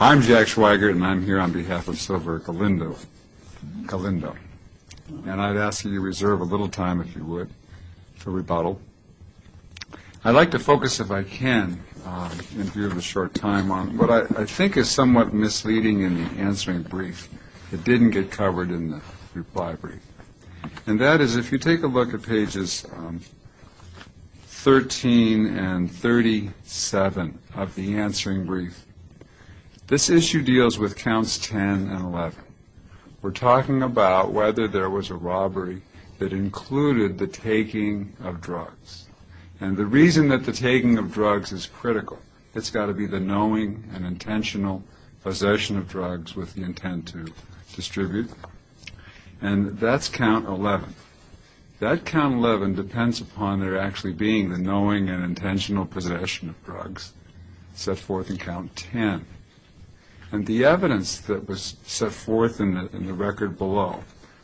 I'm Jack Schweigert and I'm here on behalf of Silver Galindo, and I'd ask that you reserve a little time, if you would, for rebuttal. I'd like to focus, if I can, in view of a short time, on what I think is somewhat misleading in the answering brief that didn't get covered in the reply brief. And that is, if you take a look at pages 13 and 37 of the answering brief, this issue deals with counts 10 and 11. We're talking about whether there was a robbery that included the taking of drugs. And the reason that the taking of drugs is critical, it's got to be the knowing and intentional possession of drugs with the intent to distribute. And that's count 11. That count 11 depends upon there actually being the knowing and intentional possession of drugs. That's count 10. And the evidence that was set forth in the record below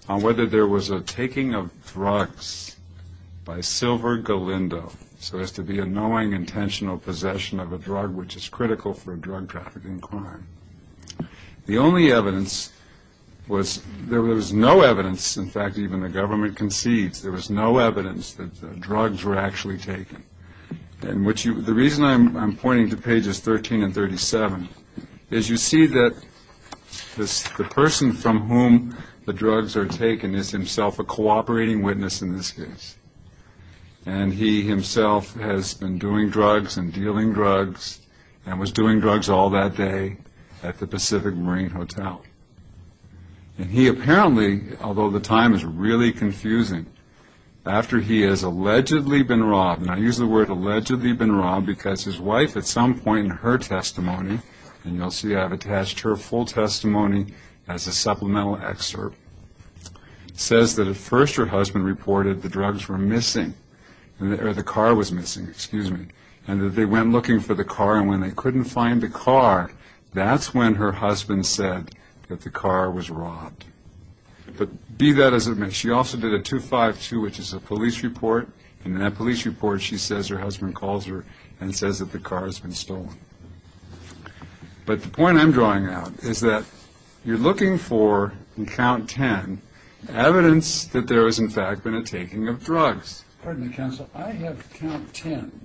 on whether there was a taking of drugs by Silver Galindo, so as to be a knowing, intentional possession of a drug which is critical for drug trafficking crime, the only evidence was there was no evidence, in fact, even the government concedes, there was no evidence that drugs were actually taken. And the reason I'm pointing to pages 13 and 37 is you see that the person from whom the drugs are taken is himself a cooperating witness in this case. And he himself has been doing drugs and dealing drugs and was doing drugs all that day at the Pacific Marine Hotel. And he apparently, although the time is really confusing, after he has allegedly been robbed, and I use the word allegedly been robbed because his wife at some point in her testimony, and you'll see I've attached her full testimony as a supplemental excerpt, says that at first her husband reported the drugs were missing, or the car was missing, excuse me, and that they went looking for the car and when they couldn't find the car, that's when her husband said that the car was robbed. But be that as it may, she also did a 252, which is a police report, and in that police report she says her husband calls her and says that the car has been stolen. But the point I'm drawing out is that you're looking for, in count 10, evidence that there has, in fact, been a taking of drugs. Pardon me, counsel. I have count 10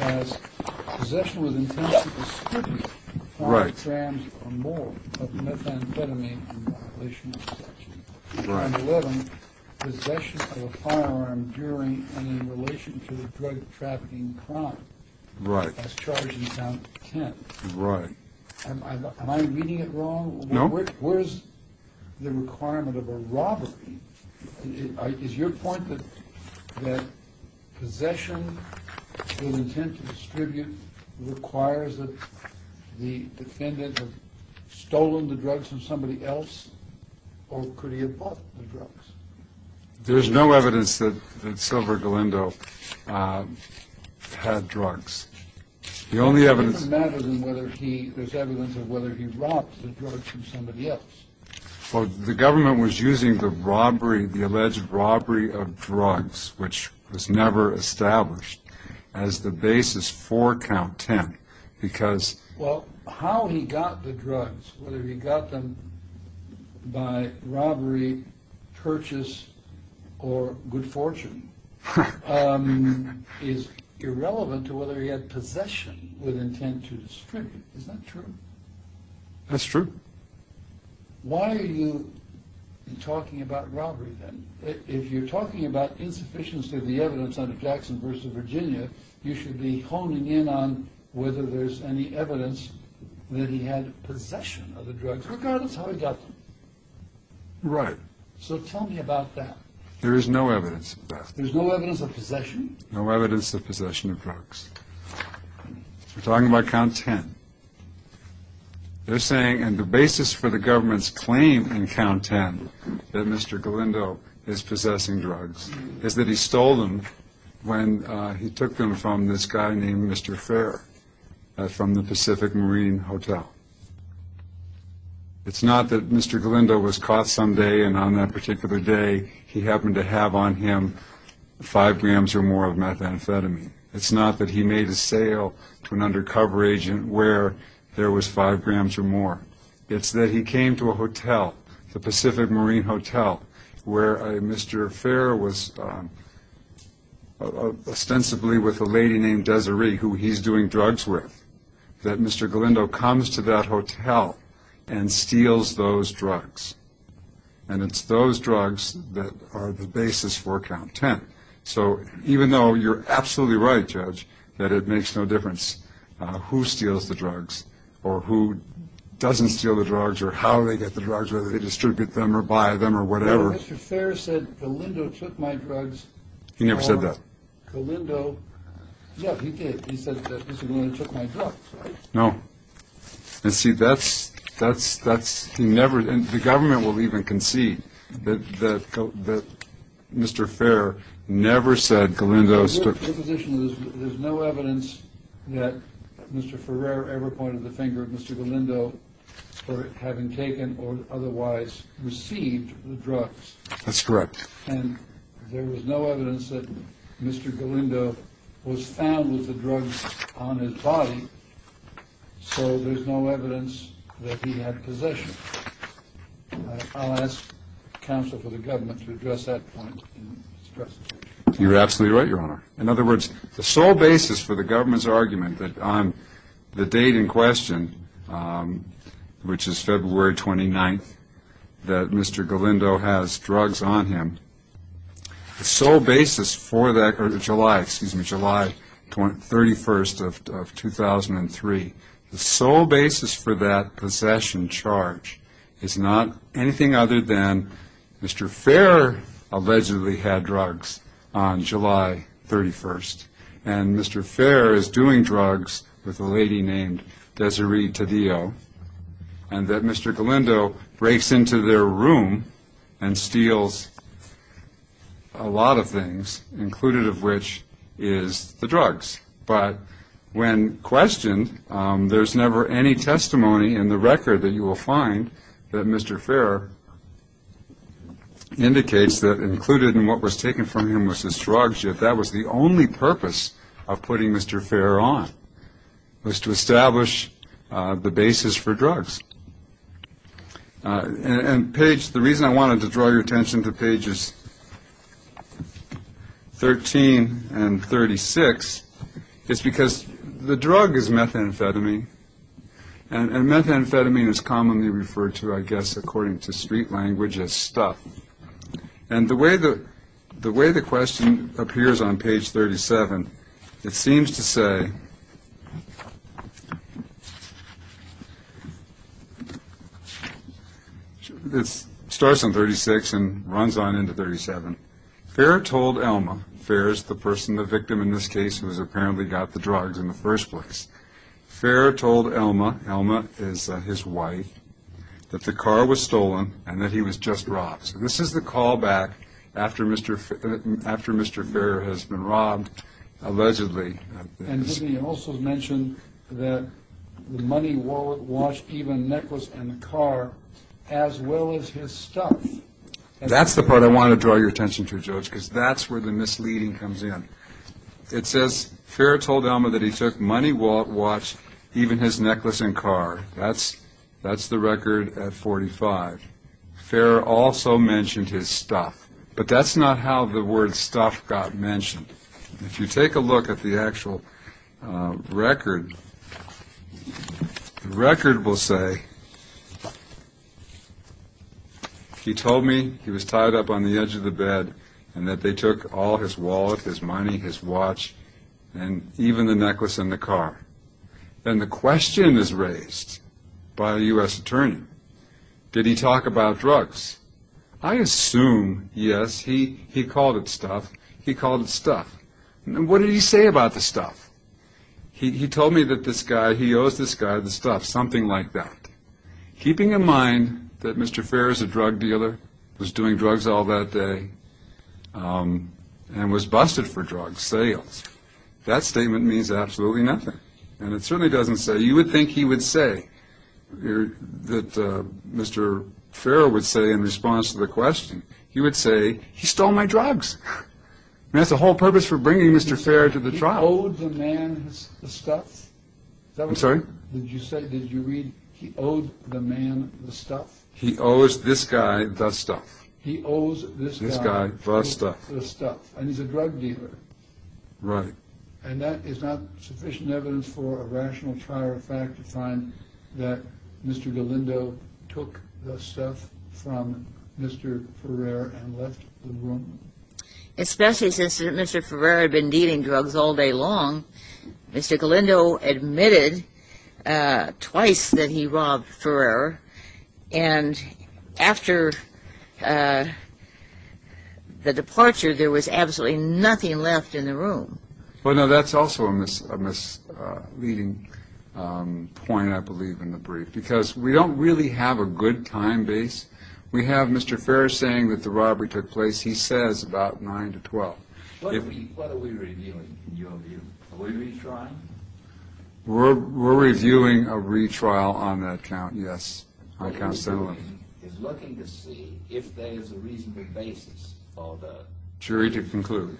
as possession with intent to distribute 5 grams or more of methamphetamine in violation of section 11, possession of a firearm during and in relation to a drug trafficking crime, as charged in count 10. Right. Am I reading it wrong? No. Where's the requirement of a robbery? Is your point that possession with intent to distribute requires that the defendant have stolen the drugs from somebody else, or could he have bought the drugs? There's no evidence that Silver Galindo had drugs. The only evidence... There's evidence of whether he robbed the drugs from somebody else. Well, the government was using the robbery, the alleged robbery of drugs, which was never established, as the basis for count 10, because... Well, how he got the drugs, whether he got them by robbery, purchase, or good fortune, is irrelevant to whether he had possession with intent to distribute. Is that true? That's true. Why are you talking about robbery, then? If you're talking about insufficiency of the evidence under Jackson v. Virginia, you should be honing in on whether there's any evidence that he had possession of the drugs, regardless how he got them. Right. So tell me about that. There is no evidence of that. There's no evidence of possession? No evidence of possession of drugs. We're talking about count 10. They're saying, and the basis for the government's claim in count 10 that Mr. Galindo is possessing drugs is that he stole them when he took them from this guy named Mr. Fair from the Pacific Marine Hotel. It's not that Mr. Galindo was caught some day, and on that particular day, he happened to have on him 5 grams or more of methamphetamine. It's not that he made a sale to an undercover agent where there was 5 grams or more. It's that he came to a hotel, the Pacific Marine Hotel, where Mr. Fair was ostensibly with a lady named Desiree, who he's doing drugs with, that Mr. Galindo comes to that hotel and steals those drugs. And it's those drugs that are the basis for count 10. So even though you're absolutely right, Judge, that it makes no difference who steals the drugs or who doesn't steal the drugs or how they get the drugs, whether they distribute them or buy them or whatever. No, Mr. Fair said Galindo took my drugs. He never said that. Yeah, he did. He said that Mr. Galindo took my drugs, right? No. And see, that's – he never – and the government will even concede that Mr. Fair never said Galindo took – The position is that there's no evidence that Mr. Ferrer ever pointed the finger at Mr. Galindo for having taken or otherwise received the drugs. That's correct. And there was no evidence that Mr. Galindo was found with the drugs on his body, so there's no evidence that he had possession. I'll ask counsel for the government to address that point in his presentation. You're absolutely right, Your Honor. In other words, the sole basis for the government's argument that on the date in question, which is February 29th, that Mr. Galindo has drugs on him, the sole basis for that – or July, excuse me, July 31st of 2003, the sole basis for that possession charge is not anything other than Mr. Ferrer allegedly had drugs on July 31st. And Mr. Ferrer is doing drugs with a lady named Desiree Taddeo, and that Mr. Galindo breaks into their room and steals a lot of things, included of which is the drugs. But when questioned, there's never any testimony in the record that you will find that Mr. Ferrer indicates that included in what was taken from him was his drugs, yet that was the only purpose of putting Mr. Ferrer on, was to establish the basis for drugs. And, Paige, the reason I wanted to draw your attention to pages 13 and 36 is because the drug is methamphetamine, and methamphetamine is commonly referred to, I guess, according to street language as stuff. And the way the question appears on page 37, it seems to say – it starts on 36 and runs on into 37. Ferrer told Elma – Ferrer's the person, the victim in this case, who has apparently got the drugs in the first place – Ferrer told Elma – Elma is his wife – that the car was stolen and that he was just robbed. So this is the callback after Mr. Ferrer has been robbed, allegedly. And he also mentioned that the money wallet, watch, even necklace and the car, as well as his stuff. That's the part I want to draw your attention to, George, because that's where the misleading comes in. It says, Ferrer told Elma that he took money wallet, watch, even his necklace and car. That's the record at 45. Ferrer also mentioned his stuff. But that's not how the word stuff got mentioned. If you take a look at the actual record, the record will say, he told me he was tied up on the edge of the bed and that they took all his wallet, his money, his watch, and even the necklace and the car. Then the question is raised by a U.S. attorney. Did he talk about drugs? I assume, yes, he called it stuff. He called it stuff. What did he say about the stuff? He told me that this guy, he owes this guy the stuff, something like that. Keeping in mind that Mr. Ferrer is a drug dealer, was doing drugs all that day, and was busted for drug sales, that statement means absolutely nothing. And it certainly doesn't say, you would think he would say, that Mr. Ferrer would say in response to the question, he would say, he stole my drugs. That's the whole purpose for bringing Mr. Ferrer to the trial. He owed the man the stuff? I'm sorry? Did you say, did you read, he owed the man the stuff? He owes this guy the stuff. He owes this guy the stuff. And he's a drug dealer. Right. And that is not sufficient evidence for a rational prior fact to find that Mr. Galindo took the stuff from Mr. Ferrer and left the room? Especially since Mr. Ferrer had been dealing drugs all day long. Mr. Galindo admitted twice that he robbed Ferrer. And after the departure, there was absolutely nothing left in the room. Well, no, that's also a misleading point, I believe, in the brief. Because we don't really have a good time base. We have Mr. Ferrer saying that the robbery took place, he says, about 9 to 12. What are we reviewing, in your view? Are we retrying? We're reviewing a retrial on that count, yes. We're looking to see if there is a reasonable basis for the jury to conclude.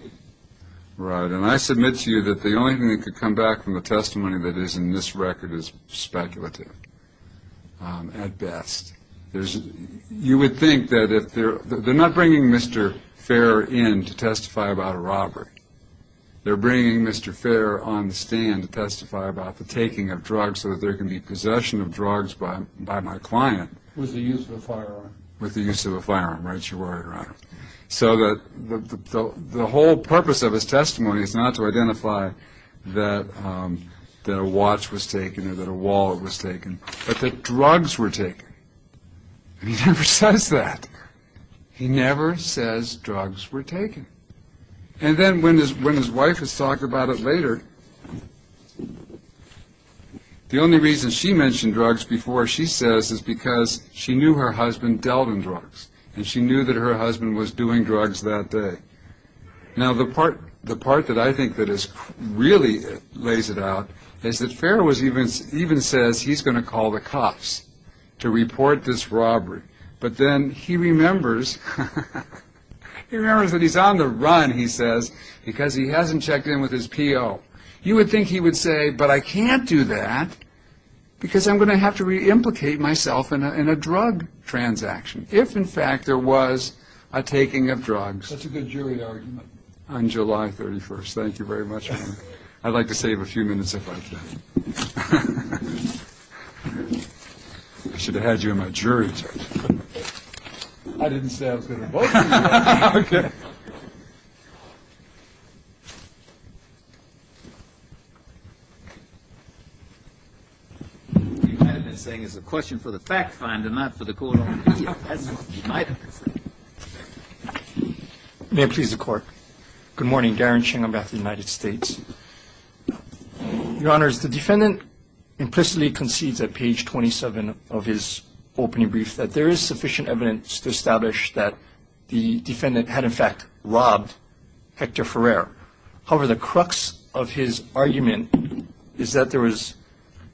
Right. And I submit to you that the only thing that could come back from the testimony that is in this record is speculative, at best. You would think that if they're, they're not bringing Mr. Ferrer in to testify about a robbery. They're bringing Mr. Ferrer on the stand to testify about the taking of drugs so that there can be possession of drugs by my client. With the use of a firearm. With the use of a firearm, right, your Honor. So that the whole purpose of his testimony is not to identify that a watch was taken or that a wallet was taken, but that drugs were taken. He never says that. He never says drugs were taken. And then when his wife is talking about it later, the only reason she mentioned drugs before she says is because she knew her husband dealt in drugs. And she knew that her husband was doing drugs that day. Now the part that I think that really lays it out is that Ferrer even says he's going to call the cops to report this robbery. But then he remembers, he remembers that he's on the run, he says, because he hasn't checked in with his PO. You would think he would say, but I can't do that because I'm going to have to re-implicate myself in a drug transaction. If, in fact, there was a taking of drugs. That's a good jury argument. On July 31st. Thank you very much. I'd like to save a few minutes if I can. I should have had you in my jury session. I didn't say I was going to vote for you. Okay. You might have been saying it's a question for the fact finder, not for the court officer. May I please the court? Good morning. Darren Ching. I'm with the United States. Your Honor, the defendant implicitly concedes at page 27 of his opening brief that there is sufficient evidence to establish that the defendant had, in fact, robbed Hector Ferrer. However, the crux of his argument is that there was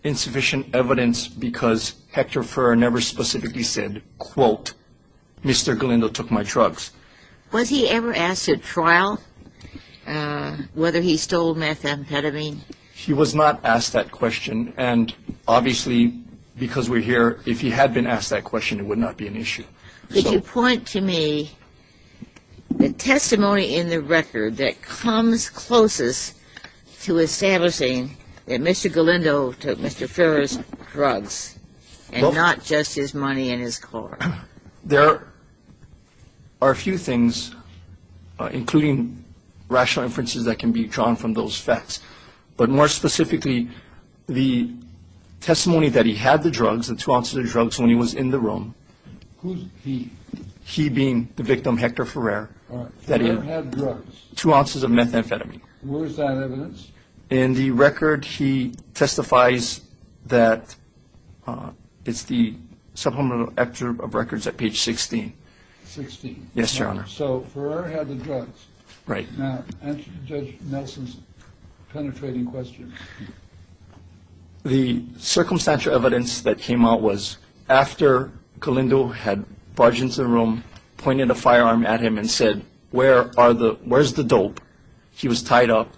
insufficient evidence because Hector Ferrer never specifically said, quote, Mr. Galindo took my drugs. Was he ever asked at trial whether he stole methamphetamine? He was not asked that question. And obviously, because we're here, if he had been asked that question, it would not be an issue. Could you point to me the testimony in the record that comes closest to establishing that Mr. Galindo took Mr. Ferrer's drugs and not just his money and his car? There are a few things, including rational inferences that can be drawn from those facts. But more specifically, the testimony that he had the drugs, the two ounces of drugs, when he was in the room. Who's he? He being the victim, Hector Ferrer. All right. Ferrer had drugs. Two ounces of methamphetamine. Where is that evidence? In the record, he testifies that it's the supplemental excerpt of records at page 16. 16. Yes, Your Honor. So Ferrer had the drugs. Right. Now, answer Judge Nelson's penetrating question. The circumstantial evidence that came out was after Galindo had barged into the room, pointed a firearm at him and said, where are the, where's the dope? He was tied up.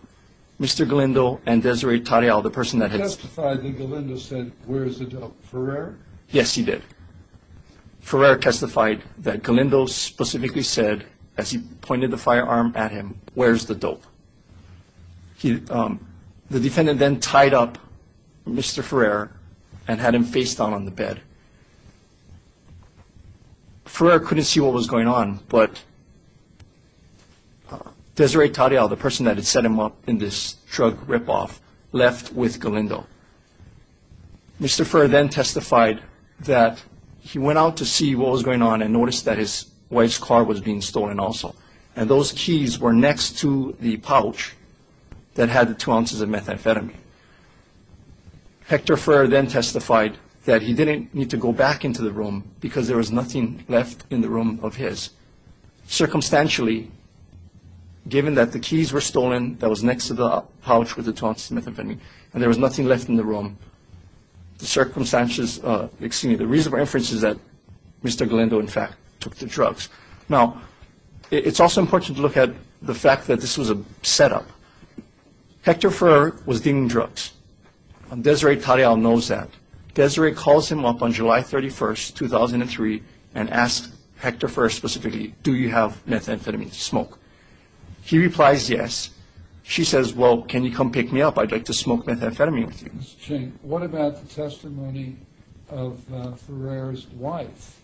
Mr. Galindo and Desiree Tarial, the person that had. He testified that Galindo said, where's the dope? Ferrer? Yes, he did. Ferrer testified that Galindo specifically said, as he pointed the firearm at him, where's the dope? The defendant then tied up Mr. Ferrer and had him face down on the bed. Ferrer couldn't see what was going on, but Desiree Tarial, the person that had set him up in this drug ripoff, left with Galindo. Mr. Ferrer then testified that he went out to see what was going on and noticed that his wife's car was being stolen also, and those keys were next to the pouch that had the two ounces of methamphetamine. Hector Ferrer then testified that he didn't need to go back into the room because there was nothing left in the room of his. Circumstantially, given that the keys were stolen that was next to the pouch with the two ounces of methamphetamine and there was nothing left in the room, the reason for inference is that Mr. Galindo, in fact, took the drugs. Now, it's also important to look at the fact that this was a setup. Hector Ferrer was dealing drugs, and Desiree Tarial knows that. Desiree calls him up on July 31, 2003, and asks Hector Ferrer specifically, do you have methamphetamine to smoke? He replies yes. She says, well, can you come pick me up? I'd like to smoke methamphetamine with you. Mr. Ching, what about the testimony of Ferrer's wife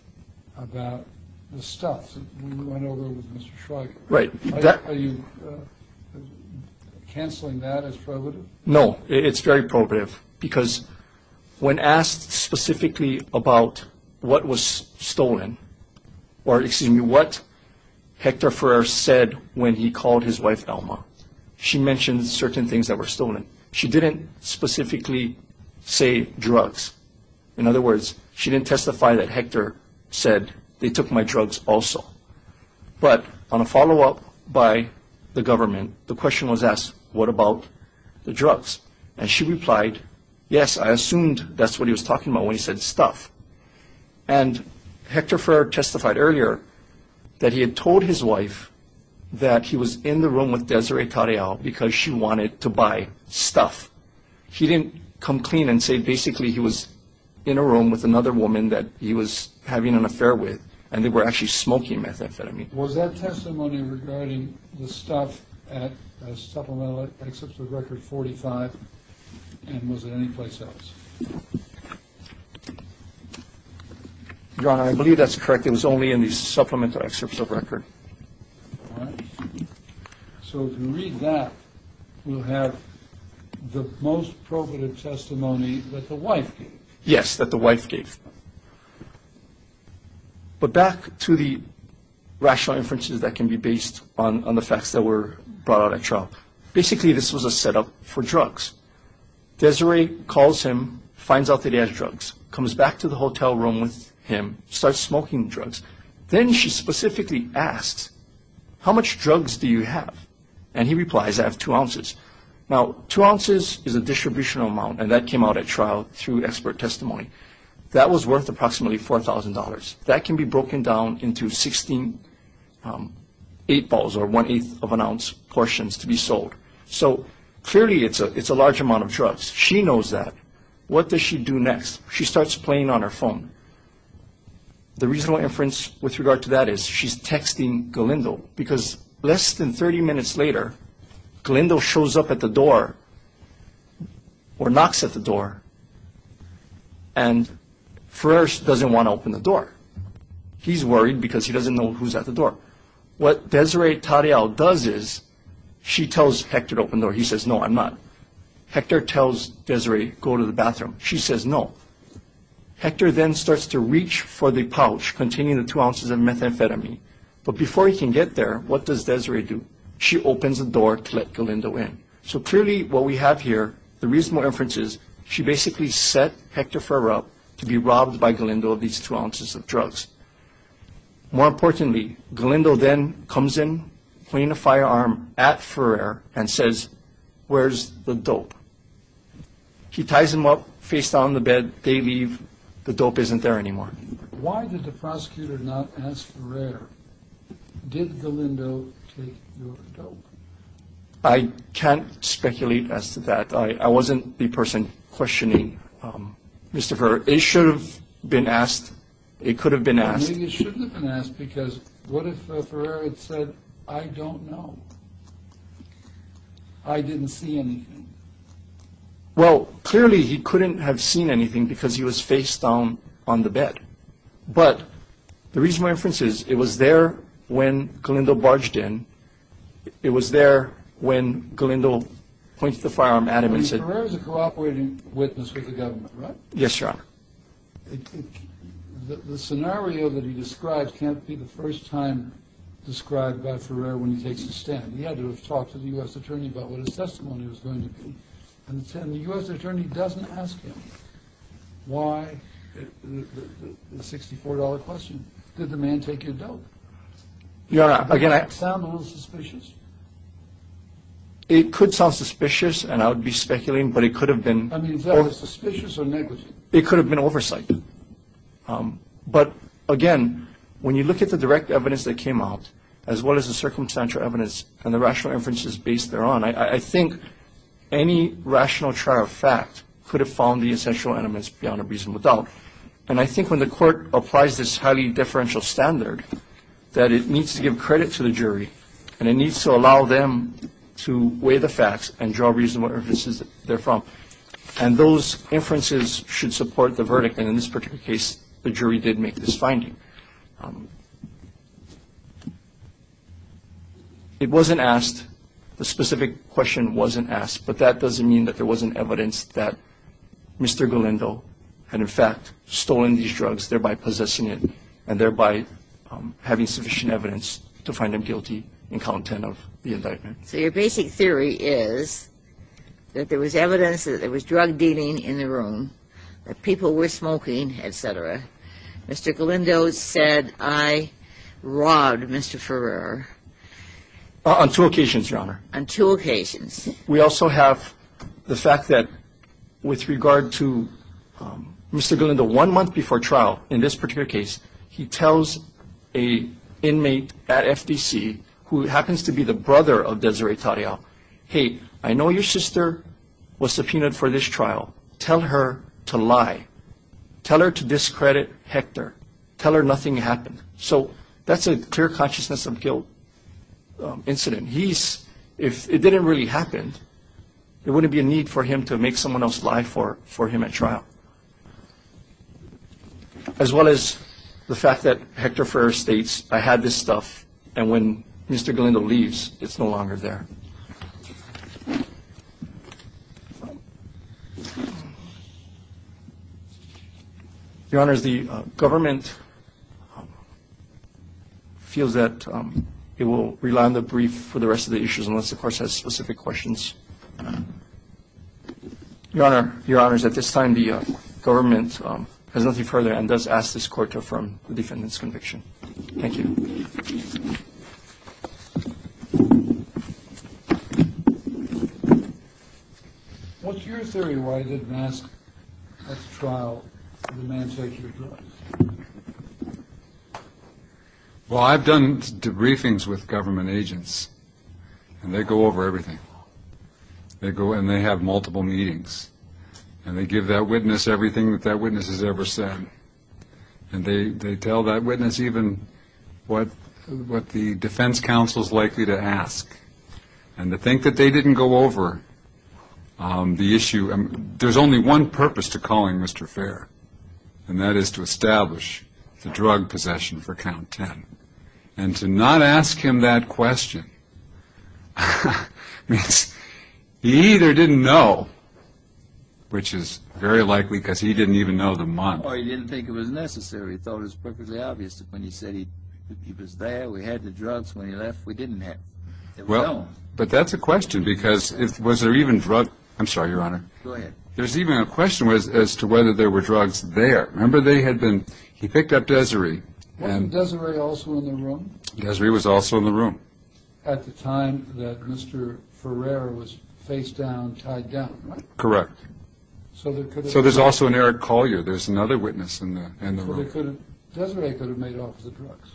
about the stuff? Right. Are you canceling that as prohibitive? No, it's very prohibitive because when asked specifically about what was stolen or, excuse me, what Hector Ferrer said when he called his wife, Alma, she mentioned certain things that were stolen. She didn't specifically say drugs. In other words, she didn't testify that Hector said they took my drugs also. But on a follow-up by the government, the question was asked, what about the drugs? And she replied, yes, I assumed that's what he was talking about when he said stuff. And Hector Ferrer testified earlier that he had told his wife that he was in the room with Desiree Tarial because she wanted to buy stuff. She didn't come clean and say basically he was in a room with another woman that he was having an affair with and they were actually smoking methamphetamine. Was that testimony regarding the stuff at Supplemental Excerpt of Record 45 and was it anyplace else? Your Honor, I believe that's correct. It was only in the Supplemental Excerpt of Record. All right. So if we read that, we'll have the most probative testimony that the wife gave. Yes, that the wife gave. But back to the rational inferences that can be based on the facts that were brought out at trial. Basically, this was a setup for drugs. Desiree calls him, finds out that he has drugs, comes back to the hotel room with him, starts smoking drugs. Then she specifically asks, how much drugs do you have? And he replies, I have two ounces. Now, two ounces is a distributional amount, and that came out at trial through expert testimony. That was worth approximately $4,000. That can be broken down into eight balls or one-eighth of an ounce portions to be sold. So clearly it's a large amount of drugs. She knows that. What does she do next? She starts playing on her phone. The reasonable inference with regard to that is she's texting Galindo because less than 30 minutes later, Galindo shows up at the door or knocks at the door, and Ferrer doesn't want to open the door. He's worried because he doesn't know who's at the door. What Desiree Tarreal does is she tells Hector to open the door. He says, no, I'm not. Hector tells Desiree, go to the bathroom. She says, no. Hector then starts to reach for the pouch containing the two ounces of methamphetamine. But before he can get there, what does Desiree do? She opens the door to let Galindo in. So clearly what we have here, the reasonable inference is she basically set Hector Ferrer up to be robbed by Galindo of these two ounces of drugs. More importantly, Galindo then comes in, pointing a firearm at Ferrer, and says, where's the dope? He ties him up, face down on the bed. They leave. The dope isn't there anymore. Why did the prosecutor not ask Ferrer, did Galindo take your dope? I can't speculate as to that. I wasn't the person questioning Mr. Ferrer. It should have been asked. It could have been asked. Maybe it shouldn't have been asked because what if Ferrer had said, I don't know. I didn't see anything. Well, clearly he couldn't have seen anything because he was face down on the bed. But the reasonable inference is it was there when Galindo barged in. It was there when Galindo pointed the firearm at him and said. Ferrer is a cooperating witness with the government, right? Yes, Your Honor. The scenario that he described can't be the first time described by Ferrer when he takes a stand. He had to have talked to the U.S. attorney about what his testimony was going to be. And the U.S. attorney doesn't ask him why the $64 question. Did the man take your dope? Your Honor, again, I. Does that sound a little suspicious? It could sound suspicious, and I would be speculating, but it could have been. I mean, is that suspicious or negligent? It could have been oversight. But, again, when you look at the direct evidence that came out, as well as the circumstantial evidence and the rational inferences based thereon, I think any rational chart of fact could have found the essential elements beyond a reasonable doubt. And I think when the court applies this highly differential standard that it needs to give credit to the jury and it needs to allow them to weigh the facts and draw reasonable inferences therefrom. And those inferences should support the verdict. And in this particular case, the jury did make this finding. It wasn't asked. The specific question wasn't asked. But that doesn't mean that there wasn't evidence that Mr. Galindo had, in fact, stolen these drugs, thereby possessing it, and thereby having sufficient evidence to find him guilty in count 10 of the indictment. So your basic theory is that there was evidence that there was drug dealing in the room, that people were smoking, et cetera. Mr. Galindo said, I robbed Mr. Ferrer. On two occasions, Your Honor. On two occasions. We also have the fact that with regard to Mr. Galindo, one month before trial in this particular case, he tells an inmate at FTC who happens to be the brother of Desiree Tarial, hey, I know your sister was subpoenaed for this trial. Tell her to lie. Tell her to discredit Hector. Tell her nothing happened. So that's a clear consciousness of guilt incident. If it didn't really happen, there wouldn't be a need for him to make someone else lie for him at trial. As well as the fact that Hector Ferrer states, I had this stuff, and when Mr. Galindo leaves, it's no longer there. Your Honors, the government feels that it will rely on the brief for the rest of the issues, unless the Court has specific questions. Your Honors, at this time, the government has nothing further and does ask this Court to affirm the defendant's conviction. Thank you. What's your theory why you didn't ask at the trial for the man to take your drugs? Well, I've done briefings with government agents, and they go over everything. They go and they have multiple meetings, and they give that witness everything that that witness has ever said. And they tell that witness even what the defense counsel is likely to ask. And to think that they didn't go over the issue. There's only one purpose to calling Mr. Ferrer, and that is to establish the drug possession for Count 10. And to not ask him that question means he either didn't know, which is very likely because he didn't even know the month. Or he didn't think it was necessary. He thought it was perfectly obvious that when he said he was there, we had the drugs. When he left, we didn't have them. But that's a question because was there even drug – I'm sorry, Your Honor. Go ahead. There's even a question as to whether there were drugs there. Remember, they had been – he picked up Desiree. Wasn't Desiree also in the room? Desiree was also in the room. At the time that Mr. Ferrer was face down, tied down, right? Correct. So there's also an Eric Collier. There's another witness in the room. Desiree could have made off with the drugs.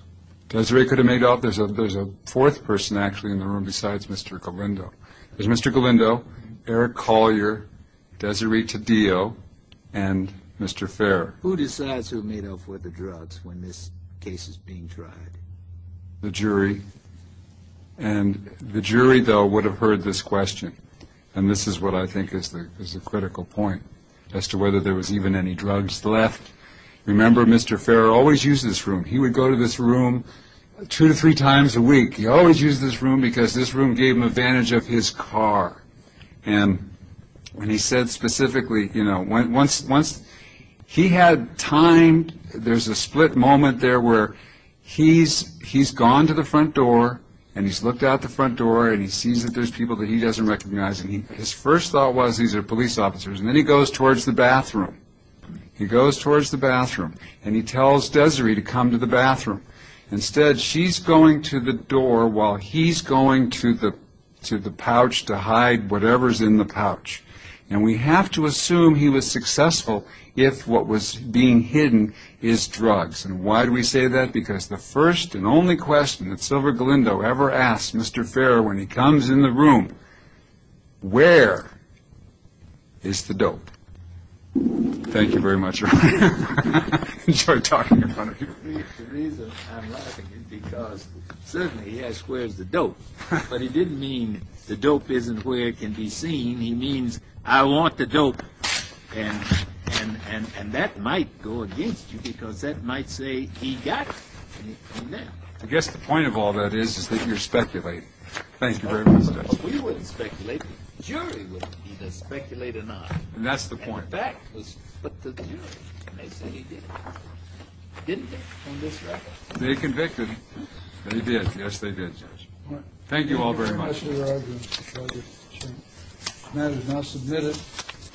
Desiree could have made off. There's a fourth person actually in the room besides Mr. Galindo. There's Mr. Galindo, Eric Collier, Desiree Taddeo, and Mr. Ferrer. Who decides who made off with the drugs when this case is being tried? The jury. And the jury, though, would have heard this question. And this is what I think is the critical point as to whether there was even any drugs left. Remember, Mr. Ferrer always used this room. He would go to this room two to three times a week. He always used this room because this room gave him advantage of his car. And he said specifically, you know, once he had time, there's a split moment there where he's gone to the front door, and he's looked out the front door, and he sees that there's people that he doesn't recognize. And his first thought was these are police officers. And then he goes towards the bathroom. He goes towards the bathroom, and he tells Desiree to come to the bathroom. Instead, she's going to the door while he's going to the pouch to hide whatever's in the pouch. And we have to assume he was successful if what was being hidden is drugs. And why do we say that? Because the first and only question that Silver Galindo ever asked Mr. Ferrer when he comes in the room, where is the dope? Thank you very much, Ryan. Enjoy talking in front of people. The reason I'm laughing is because certainly he asked where's the dope, but he didn't mean the dope isn't where it can be seen. He means I want the dope. And that might go against you because that might say he got it. I guess the point of all that is is that you're speculating. Thank you very much, Judge. We wouldn't speculate. The jury would either speculate or not. And that's the point. The fact is that the jury may say he did. Didn't they on this record? They convicted. They did. Yes, they did, Judge. Thank you all very much. Thank you very much, Mr. Rodgers. The matter is now submitted.